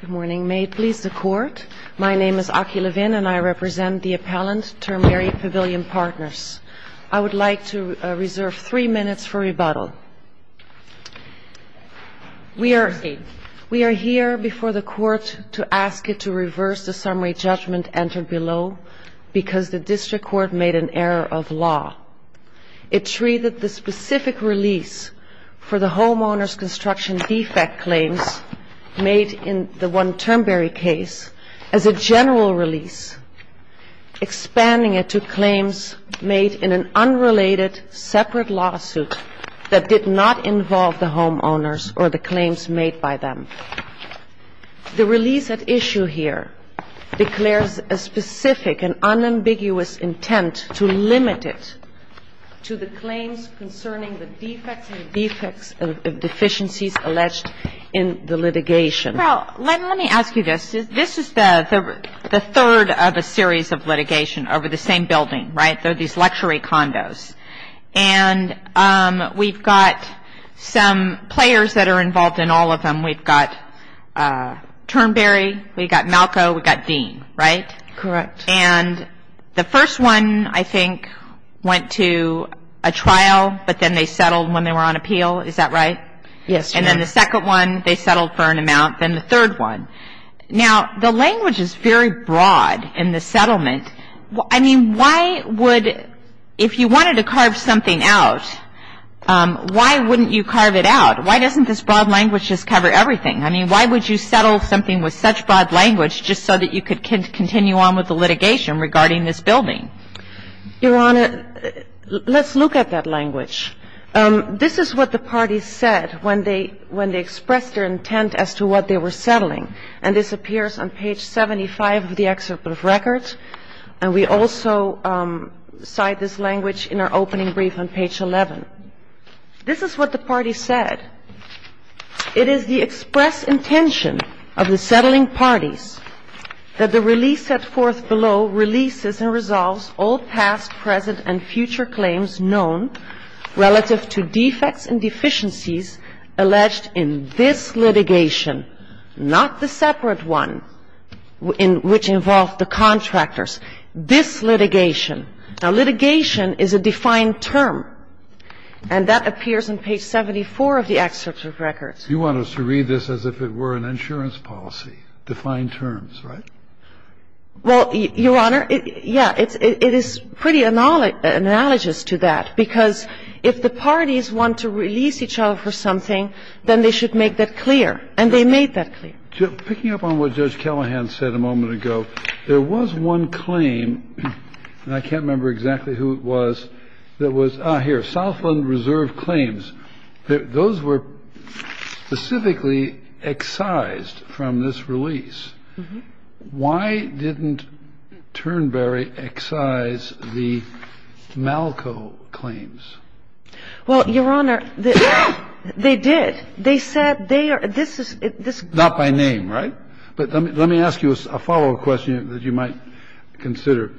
Good morning. May it please the Court. My name is Aki Levin and I represent the appellant termberry pavilion partners. I would like to reserve three minutes for rebuttal. We are here before the Court to ask it to reverse the summary judgment entered below because the District Court made an error of law. It treated the specific release for the homeowners construction defect claims made in the one termberry case as a general release, expanding it to claims made in an unrelated separate lawsuit that did not involve the homeowners or the claims made by them. The release at issue here declares a specific and unambiguous intent to limit it to the claims concerning the defects and defects of deficiencies alleged in the litigation. Well, let me ask you this. This is the third of a series of litigation over the same building, right? They're these luxury condos. And we've got some players that are involved in all of them. We've got termberry, we've got Malco, we've got Dean, right? Correct. And the first one, I think, went to a trial, but then they settled when they were on appeal. Is that right? Yes, ma'am. And then the second one, they settled for an amount. Then the third one. Now, the language is very broad in the settlement. I mean, why would you, if you wanted to carve something out, why wouldn't you carve it out? Why doesn't this broad language just cover everything? I mean, why would you settle something with such broad language just so that you could continue on with the litigation regarding this building? Your Honor, let's look at that language. This is what the parties said when they expressed their intent as to what they were settling. And this appears on page 75 of the excerpt of records. And we also cite this language in our opening brief on page 11. This is what the parties said. It is the express intention of the settling parties that the release set forth below releases and resolves all past, present, and future claims known relative to defects and deficiencies alleged in this litigation, not the separate one in which involved the contractors, this litigation. Now, litigation is a defined term. And that appears on page 74 of the excerpt of records. You want us to read this as if it were an insurance policy, defined terms, right? Well, Your Honor, yeah, it is pretty analogous to that, because if the parties want to release each other for something, then they should make that clear. And they made that clear. Picking up on what Judge Callahan said a moment ago, there was one claim, and I can't remember exactly who it was, that was, ah, here, Southland Reserve claims. Those were specifically excised from this release. Why didn't Turnberry excise the Malko claims? Well, Your Honor, they did. They said they are — this is — Not by name, right? But let me ask you a follow-up question that you might consider.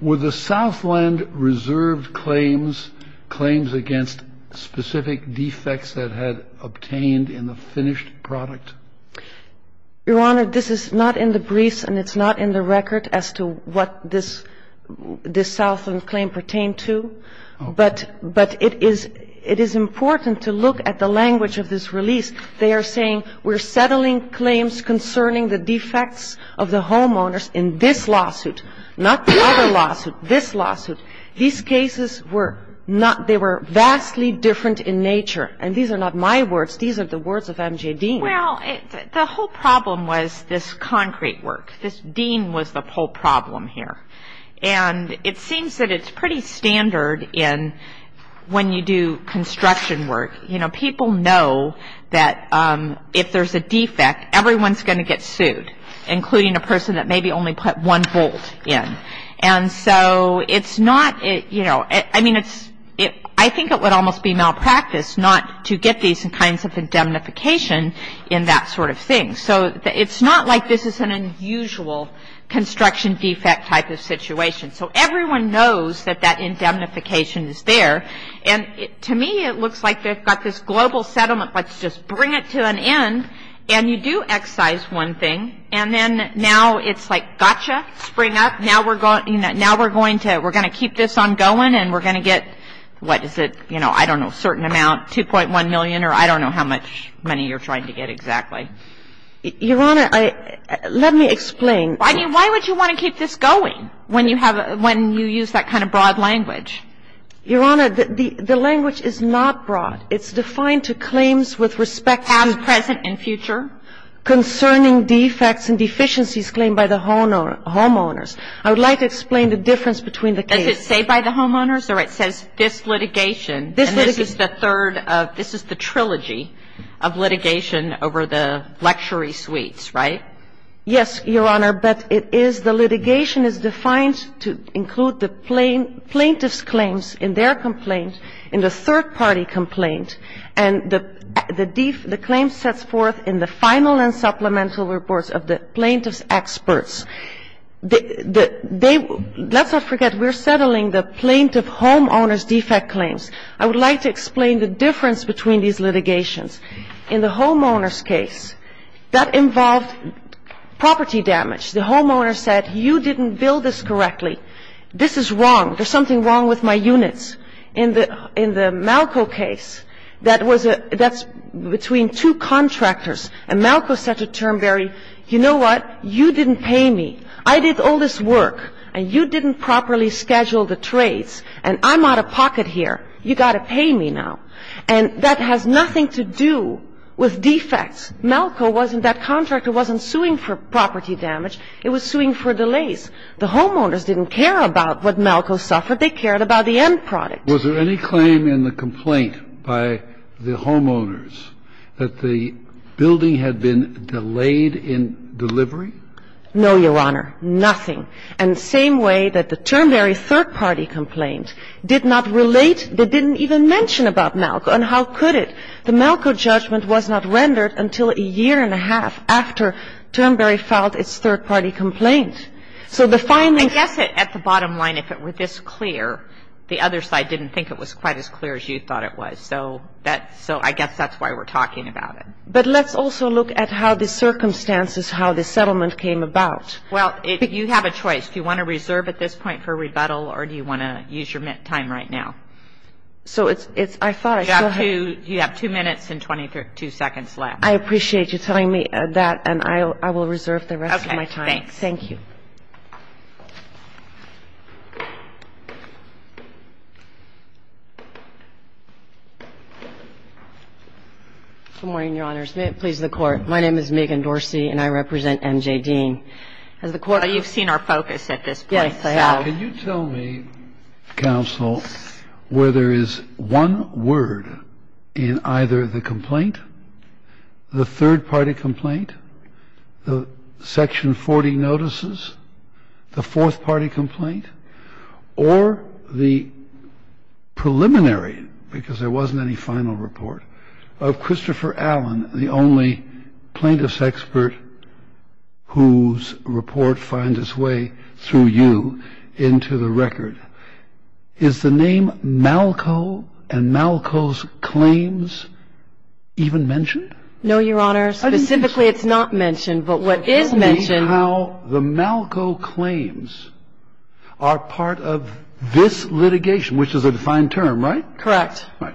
Were the Southland Reserve claims claims against specific defects that had obtained in the finished product? Your Honor, this is not in the briefs and it's not in the record as to what this — this Southland claim pertained to. But it is — it is important to look at the language of this release. They are saying we're settling claims concerning the defects of the homeowners in this lawsuit, not the other lawsuit, this lawsuit. These cases were not — they were vastly different in nature. And these are not my words. These are the words of M.J. Dean. Well, the whole problem was this concrete work. This Dean was the whole problem here. And it seems that it's pretty standard in — when you do construction work. You know, people know that if there's a defect, everyone's going to get sued, including a person who only put one bolt in. And so it's not — you know, I mean, it's — I think it would almost be malpractice not to get these kinds of indemnification in that sort of thing. So it's not like this is an unusual construction defect type of situation. So everyone knows that that indemnification is there. And to me, it looks like they've got this global settlement. I mean, I don't know how much money you're trying to get exactly. Your Honor, I — let me explain. I mean, why would you want to keep this going when you have a — when you use that kind of broad language? Your Honor, the language is not broad. It's defined to claim the property. It's defined to claim the property. So the complaint is about what the homeowner claims with respect to the — The homeowner claims with respect to the project and future. And present and future. Concerning defects and deficiencies claimed by the homeowners. I would like to explain the difference between the case — Does it say by the homeowners, or it says this litigation? This litigation. And this is the third of — this is the trilogy of litigation over the luxury suites, right? Yes, Your Honor. But it is — the litigation is defined to include the plaintiff's claims in their complaint, in the third-party complaint. And the claim sets forth in the final and supplemental reports of the plaintiff's experts. Let's not forget, we're settling the plaintiff homeowner's defect claims. I would like to explain the difference between these litigations. In the homeowners' case, that involved property damage. The homeowner said, you didn't build this correctly. This is wrong. There's something wrong with my units. In the — in the Malco case, that was a — that's between two contractors. And Malco said to Turnberry, you know what? You didn't pay me. I did all this work, and you didn't properly schedule the trades. And I'm out of pocket here. You got to pay me now. And that has nothing to do with defects. Malco wasn't — that contractor wasn't suing for property damage. It was suing for delays. The homeowners didn't care about what Malco suffered. They cared about the end product. Was there any claim in the complaint by the homeowners that the building had been delayed in delivery? No, Your Honor. Nothing. And the same way that the Turnberry third-party complaint did not relate, they didn't even mention about Malco. And how could it? The Malco judgment was not rendered until a year and a half after Turnberry filed its third-party complaint. So the findings — I guess at the bottom line, if it were this clear, the other side didn't think it was quite as clear as you thought it was. So that — so I guess that's why we're talking about it. But let's also look at how the circumstances, how the settlement came about. Well, you have a choice. Do you want to reserve at this point for rebuttal, or do you want to use your time right now? So it's — I thought — You have two minutes and 22 seconds left. I appreciate you telling me that, and I will reserve the rest of my time. Okay. Thanks. Thank you. Good morning, Your Honors. May it please the Court. My name is Megan Dorsey, and I represent M.J. Dean. As the Court — You've seen our focus at this point. Yes, I have. So can you tell me, counsel, where there is one word in either the complaint, the third-party complaint, the Section 40 notices, the fourth-party complaint, or the preliminary — because there wasn't any final report — of Christopher Allen, the only plaintiff's expert whose report finds its way through you into the record? Is the name Malco and Malco's claims even mentioned? No, Your Honor. Specifically, it's not mentioned. But what is mentioned — Malco and Malco are part of this litigation, which is a defined term, right? Correct. Right.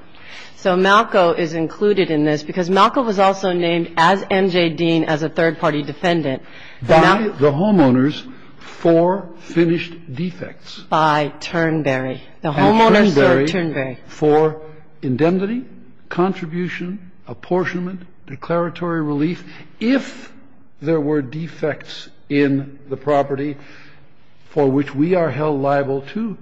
So Malco is included in this because Malco was also named, as M.J. Dean, as a third-party defendant. By the homeowners for finished defects. By Turnberry. The homeowners are Turnberry. And Turnberry for indemnity, contribution, apportionment, declaratory relief. If there were defects in the property for which we are held liable to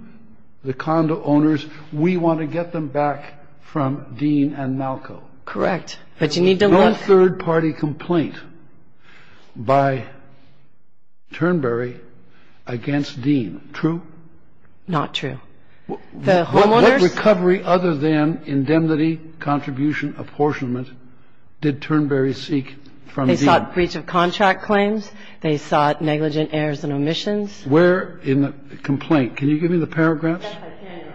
the condo owners, we want to get them back from Dean and Malco. Correct. But you need to look. There was no third-party complaint by Turnberry against Dean. True? Not true. The homeowners? The homeowners. The homeowners. What recovery other than indemnity, contribution, apportionment did Turnberry seek from Dean? They sought breach of contract claims. They sought negligent errors and omissions. Where in the complaint? Can you give me the paragraphs? Yes, I can, Your Honor.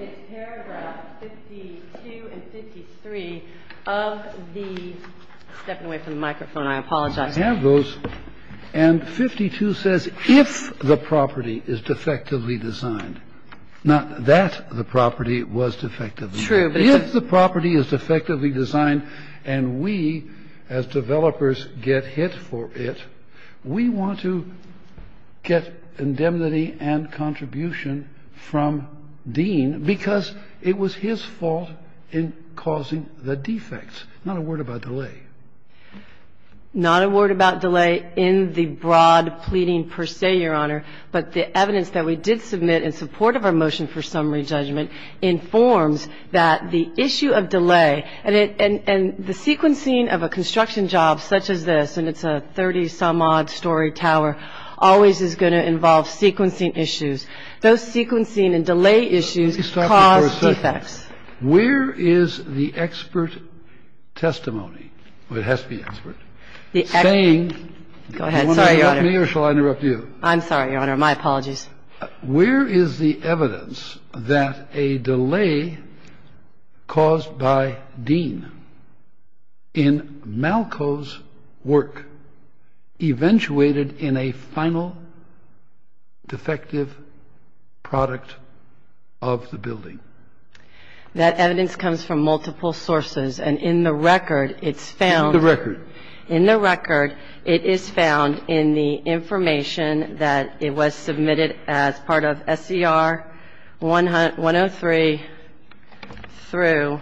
It's paragraph 52 and 53 of the — I'm stepping away from the microphone. I apologize. I have those. And 52 says, if the property is defectively designed. Now, that the property was defectively designed. True. If the property is defectively designed and we, as developers, get hit for it, we want to get indemnity and contribution from Dean because it was his fault in causing the defects. Not a word about delay. Not a word about delay in the broad pleading per se, Your Honor. But the evidence that we did submit in support of our motion for summary judgment informs that the issue of delay and the sequencing of a construction job such as this, and it's a 30-some-odd-story tower, always is going to involve sequencing issues. Those sequencing and delay issues cause defects. Where is the expert testimony, it has to be expert, saying. Go ahead. Sorry, Your Honor. Do you want to interrupt me or shall I interrupt you? I'm sorry, Your Honor. My apologies. Where is the evidence that a delay caused by Dean in Malko's work eventuated in a final defective product of the building? That evidence comes from multiple sources. And in the record, it's found. In the record. In the record, it is found in the information that it was submitted as part of SCR 103 through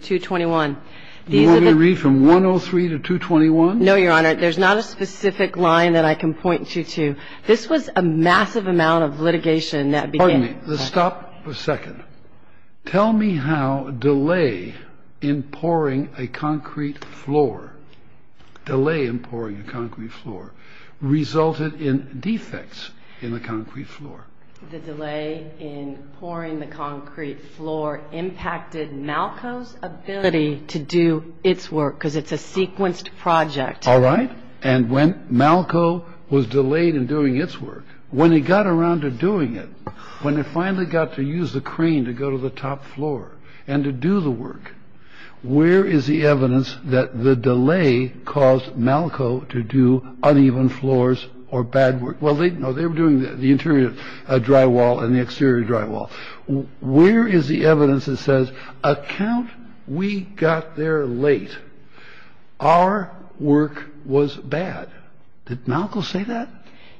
221. You want me to read from 103 to 221? No, Your Honor. There's not a specific line that I can point you to. This was a massive amount of litigation that began. Pardon me. Stop for a second. Tell me how delay in pouring a concrete floor, delay in pouring a concrete floor, resulted in defects in the concrete floor. The delay in pouring the concrete floor impacted Malko's ability to do its work because it's a sequenced project. All right. And when Malko was delayed in doing its work, when he got around to doing it, when he finally got to use the crane to go to the top floor and to do the work, where is the evidence that the delay caused Malko to do uneven floors or bad work? Well, they were doing the interior drywall and the exterior drywall. Where is the evidence that says, account we got there late, our work was bad? Did Malko say that?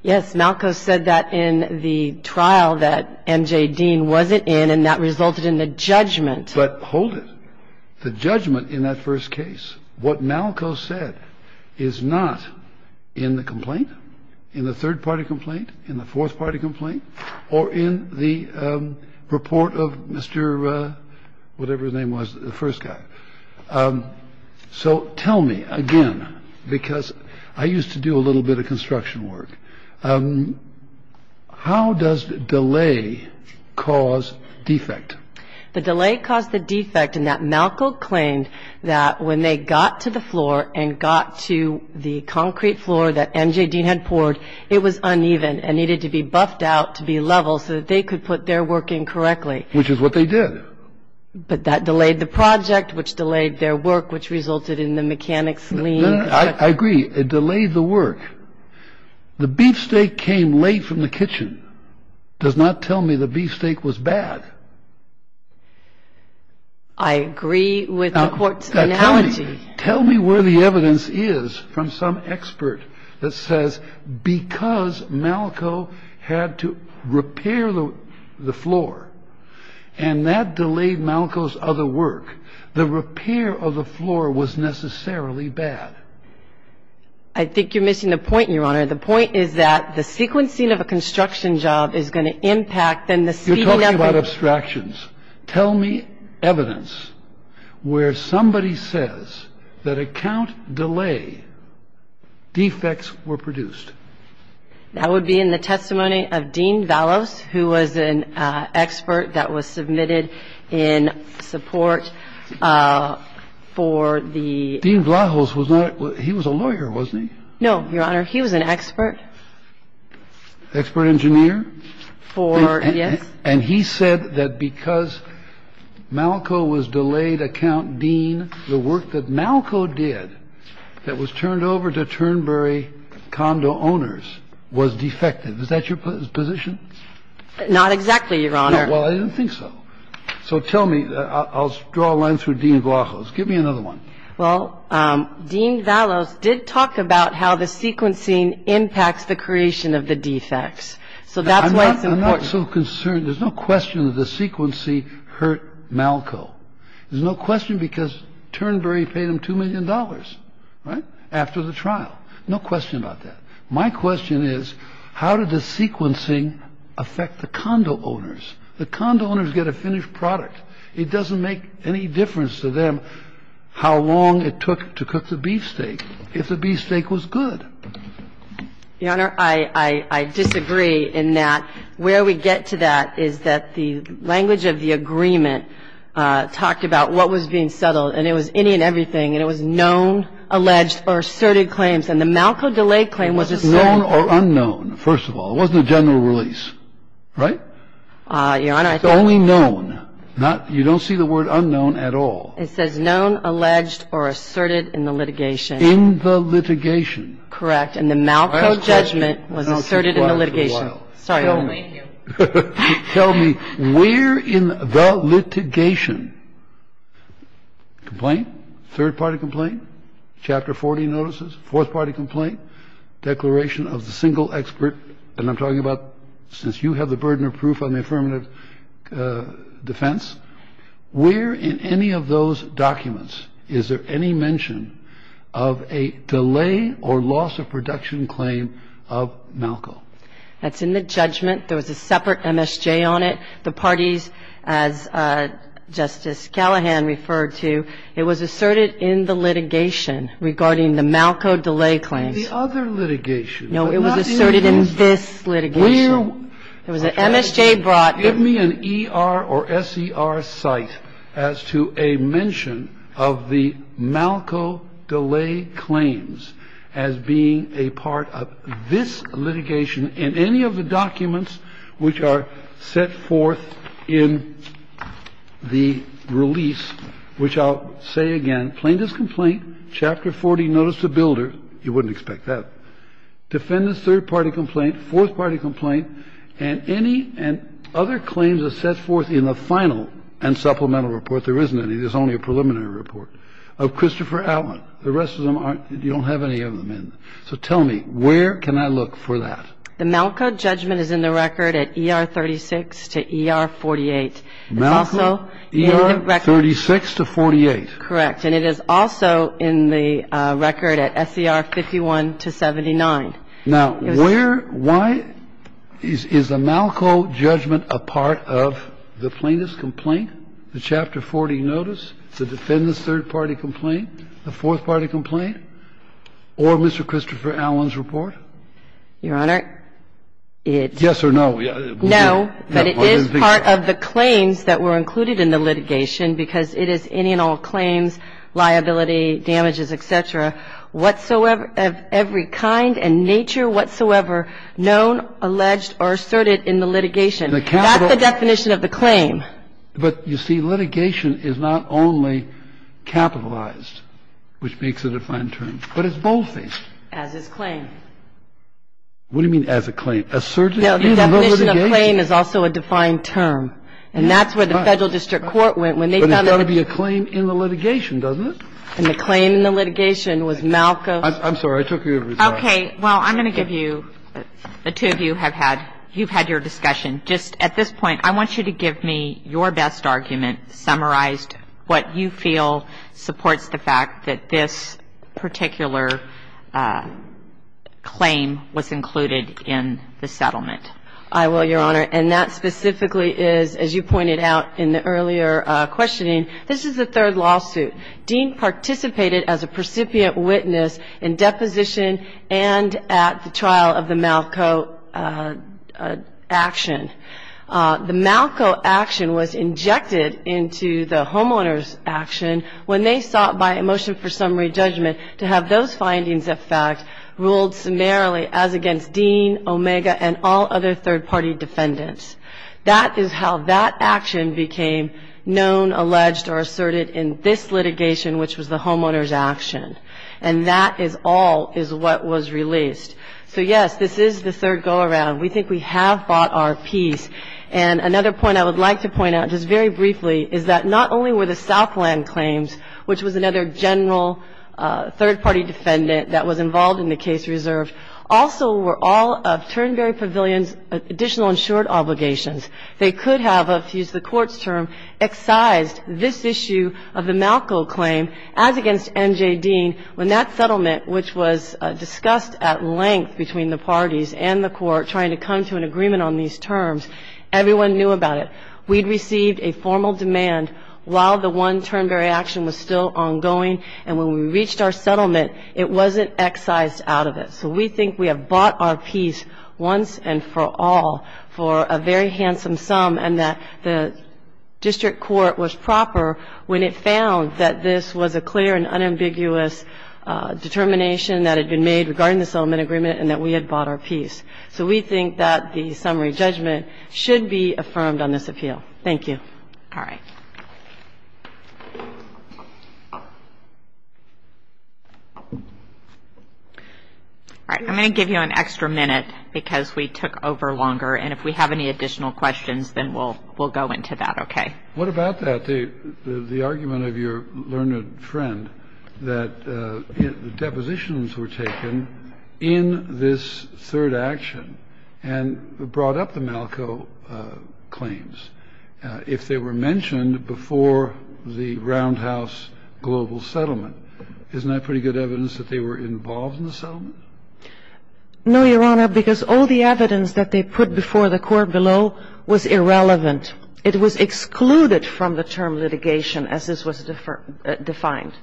Yes, Malko said that in the trial that M.J. Dean wasn't in, and that resulted in a judgment. But hold it. The judgment in that first case, what Malko said is not in the complaint, in the third-party complaint, in the fourth-party complaint, or in the report of Mr. whatever his name was, the first guy. So tell me again, because I used to do a little bit of construction work, how does delay cause defect? The delay caused the defect in that Malko claimed that when they got to the floor and got to the concrete floor that M.J. Dean had poured, it was uneven and needed to be buffed out to be level so that they could put their work in correctly. Which is what they did. But that delayed the project, which delayed their work, which resulted in the mechanics leaving. I agree. It delayed the work. The beefsteak came late from the kitchen does not tell me the beefsteak was bad. I agree with the court's analogy. Tell me where the evidence is from some expert that says because Malko had to repair the floor and that delayed Malko's other work, the repair of the floor was necessarily bad. I think you're missing the point, Your Honor. The point is that the sequencing of a construction job is going to impact them. You're talking about abstractions. Tell me evidence where somebody says that account delay defects were produced. That would be in the testimony of Dean Valos, who was an expert that was submitted in support for the. Dean Valos was not. He was a lawyer, wasn't he? No, Your Honor. He was an expert. Expert engineer for. Yes. And he said that because Malco was delayed account, Dean, the work that Malco did that was turned over to Turnberry condo owners was defective. Is that your position? Not exactly, Your Honor. Well, I don't think so. So tell me. I'll draw a line through Dean. Give me another one. Well, Dean Valos did talk about how the sequencing impacts the creation of the defects. So that's why it's important. I'm not so concerned. There's no question that the sequencing hurt Malco. There's no question because Turnberry paid him $2 million, right, after the trial. No question about that. My question is how did the sequencing affect the condo owners? The condo owners get a finished product. It doesn't make any difference to them how long it took to cook the beefsteak if the beefsteak was good. Your Honor, I disagree in that where we get to that is that the language of the agreement talked about what was being settled. And it was any and everything. And it was known, alleged, or asserted claims. And the Malco delay claim was asserted. It wasn't known or unknown, first of all. It wasn't a general release. Right? Your Honor, I think. It's only known. You don't see the word unknown at all. It says known, alleged, or asserted in the litigation. In the litigation. Correct. And the Malco judgment was asserted in the litigation. Tell me, where in the litigation, complaint, third-party complaint, Chapter 40 notices, fourth-party complaint, declaration of the single expert, and I'm talking about since you have the burden of proof on the affirmative defense, where in any of those documents is there any mention of a delay or loss of production claim of Malco? That's in the judgment. There was a separate MSJ on it. The parties, as Justice Callahan referred to, it was asserted in the litigation regarding the Malco delay claims. The other litigation. No, it was asserted in this litigation. There was an MSJ brought. Give me an ER or SER cite as to a mention of the Malco delay claims as being a part of this litigation in any of the documents which are set forth in the release, which I'll say again, plaintiff's complaint, Chapter 40 notice to Builder. You wouldn't expect that. Defendant's third-party complaint, fourth-party complaint, and any other claims are set forth in the final and supplemental report. There isn't any. There's only a preliminary report of Christopher Allen. The rest of them aren't. You don't have any of them in. So tell me, where can I look for that? The Malco judgment is in the record at ER 36 to ER 48. Malco, ER 36 to 48. Correct. And it is also in the record at SER 51 to 79. Now, where, why is the Malco judgment a part of the plaintiff's complaint, the Chapter 40 notice, the defendant's third-party complaint, the fourth-party complaint, or Mr. Christopher Allen's report? Your Honor, it's no. No, but it is part of the claims that were included in the litigation because it is any and all claims, liability, damages, et cetera, whatsoever of every kind and nature whatsoever known, alleged, or asserted in the litigation. That's the definition of the claim. But, you see, litigation is not only capitalized, which makes it a defined term, but it's both things. What do you mean as a claim? Asserted in the litigation? No, the definition of claim is also a defined term. And that's where the Federal District Court went when they found out that the ---- But it's got to be a claim in the litigation, doesn't it? And the claim in the litigation was Malco ---- I'm sorry. I took your result. Okay. Well, I'm going to give you, the two of you have had, you've had your discussion. Just at this point, I want you to give me your best argument, summarized, what you feel supports the fact that this particular claim was included in the litigation. I will, Your Honor. And that specifically is, as you pointed out in the earlier questioning, this is the third lawsuit. Dean participated as a precipient witness in deposition and at the trial of the Malco action. The Malco action was injected into the homeowners action when they sought by a motion for summary judgment to have those findings, in fact, ruled summarily as against Dean, Omega, and all other third-party defendants. That is how that action became known, alleged, or asserted in this litigation, which was the homeowners action. And that is all is what was released. So, yes, this is the third go-around. We think we have fought our piece. And another point I would like to point out, just very briefly, is that not only were the Southland claims, which was another general third-party defendant that was involved in the case reserved, also were all of Turnberry Pavilion's additional insured obligations. They could have, if you use the Court's term, excised this issue of the Malco claim as against M.J. Dean when that settlement, which was discussed at length between the parties and the Court trying to come to an agreement on these terms, everyone knew about it. We'd received a formal demand while the one Turnberry action was still ongoing. And when we reached our settlement, it wasn't excised out of it. So we think we have fought our piece once and for all for a very handsome sum and that the district court was proper when it found that this was a clear and unambiguous determination that had been made regarding the settlement agreement and that we had fought our piece. So we think that the summary judgment should be affirmed on this appeal. Thank you. All right. All right. I'm going to give you an extra minute because we took over longer. And if we have any additional questions, then we'll go into that, okay? What about that? The argument of your learned friend that the depositions were taken in this third action and brought up the Malco claims. If they were mentioned before the Roundhouse global settlement, isn't that pretty good evidence that they were involved in the settlement? No, Your Honor, because all the evidence that they put before the Court below was irrelevant. It was excluded from the term litigation as this was defined.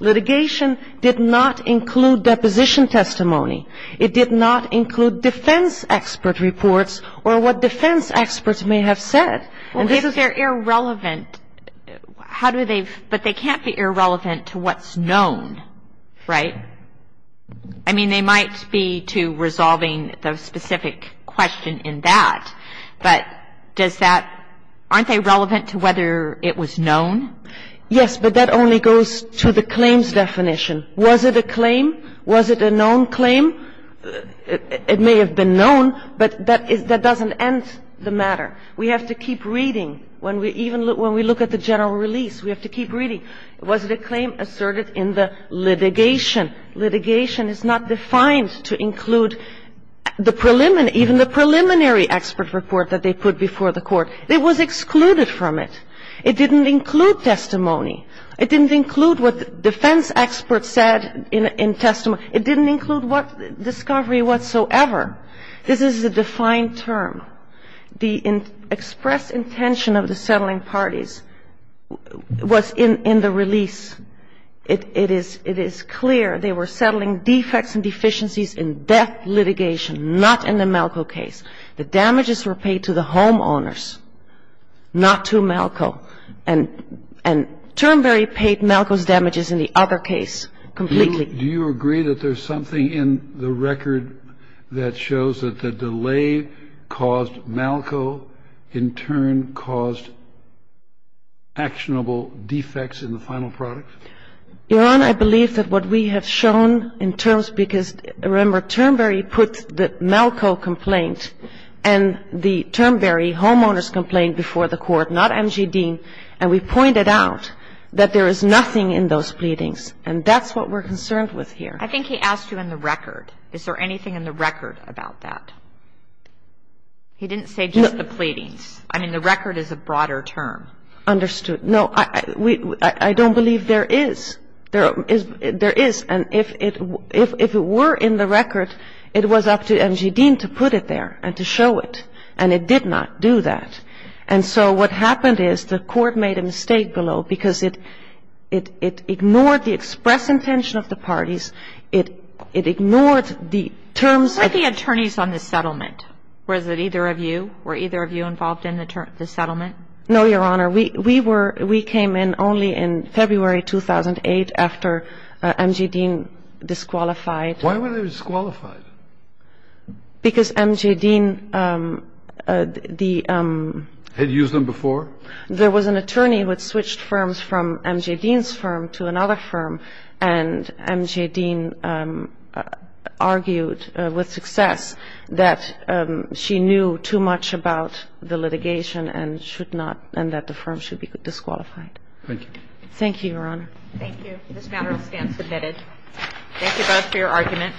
Litigation did not include deposition testimony. It did not include defense expert reports or what defense experts may have said. Well, if they're irrelevant, how do they, but they can't be irrelevant to what's known, right? I mean, they might be to resolving the specific question in that. But does that – aren't they relevant to whether it was known? Yes, but that only goes to the claims definition. Was it a claim? Was it a known claim? It may have been known, but that doesn't end the matter. We have to keep reading. When we even look – when we look at the general release, we have to keep reading. Was it a claim asserted in the litigation? No, Your Honor. It was not a claim asserted in the litigation. Litigation is not defined to include the preliminary – even the preliminary expert report that they put before the Court. It was excluded from it. It didn't include testimony. It didn't include what defense experts said in testimony. It didn't include what – discovery whatsoever. This is a defined term. The express intention of the settling parties was in the release. It is clear they were settling defects and deficiencies in death litigation, not in the Malco case. The damages were paid to the homeowners, not to Malco. And Turnberry paid Malco's damages in the other case completely. Do you agree that there's something in the record that shows that the delay caused Malco, in turn caused actionable defects in the final product? Your Honor, I believe that what we have shown in terms – because, remember, Turnberry put the Malco complaint and the Turnberry homeowners complaint before the Court, not M.G. Dean, and we pointed out that there is nothing in those pleadings. And that's what we're concerned with here. I think he asked you in the record. Is there anything in the record about that? He didn't say just the pleadings. I mean, the record is a broader term. Understood. No, I don't believe there is. There is. And if it were in the record, it was up to M.G. Dean to put it there and to show it. And it did not do that. And so what happened is the Court made a mistake below because it ignored the express intention of the parties. It ignored the terms that – Were the attorneys on the settlement? Was it either of you? Were either of you involved in the settlement? No, Your Honor. We were – we came in only in February 2008 after M.G. Dean disqualified. Why were they disqualified? Because M.G. Dean, the – Had used them before? There was an attorney who had switched firms from M.G. Dean's firm to another firm. And M.G. Dean argued with success that she knew too much about the litigation and should not – and that the firm should be disqualified. Thank you. Thank you, Your Honor. Thank you. This matter stands submitted. Thank you both for your argument.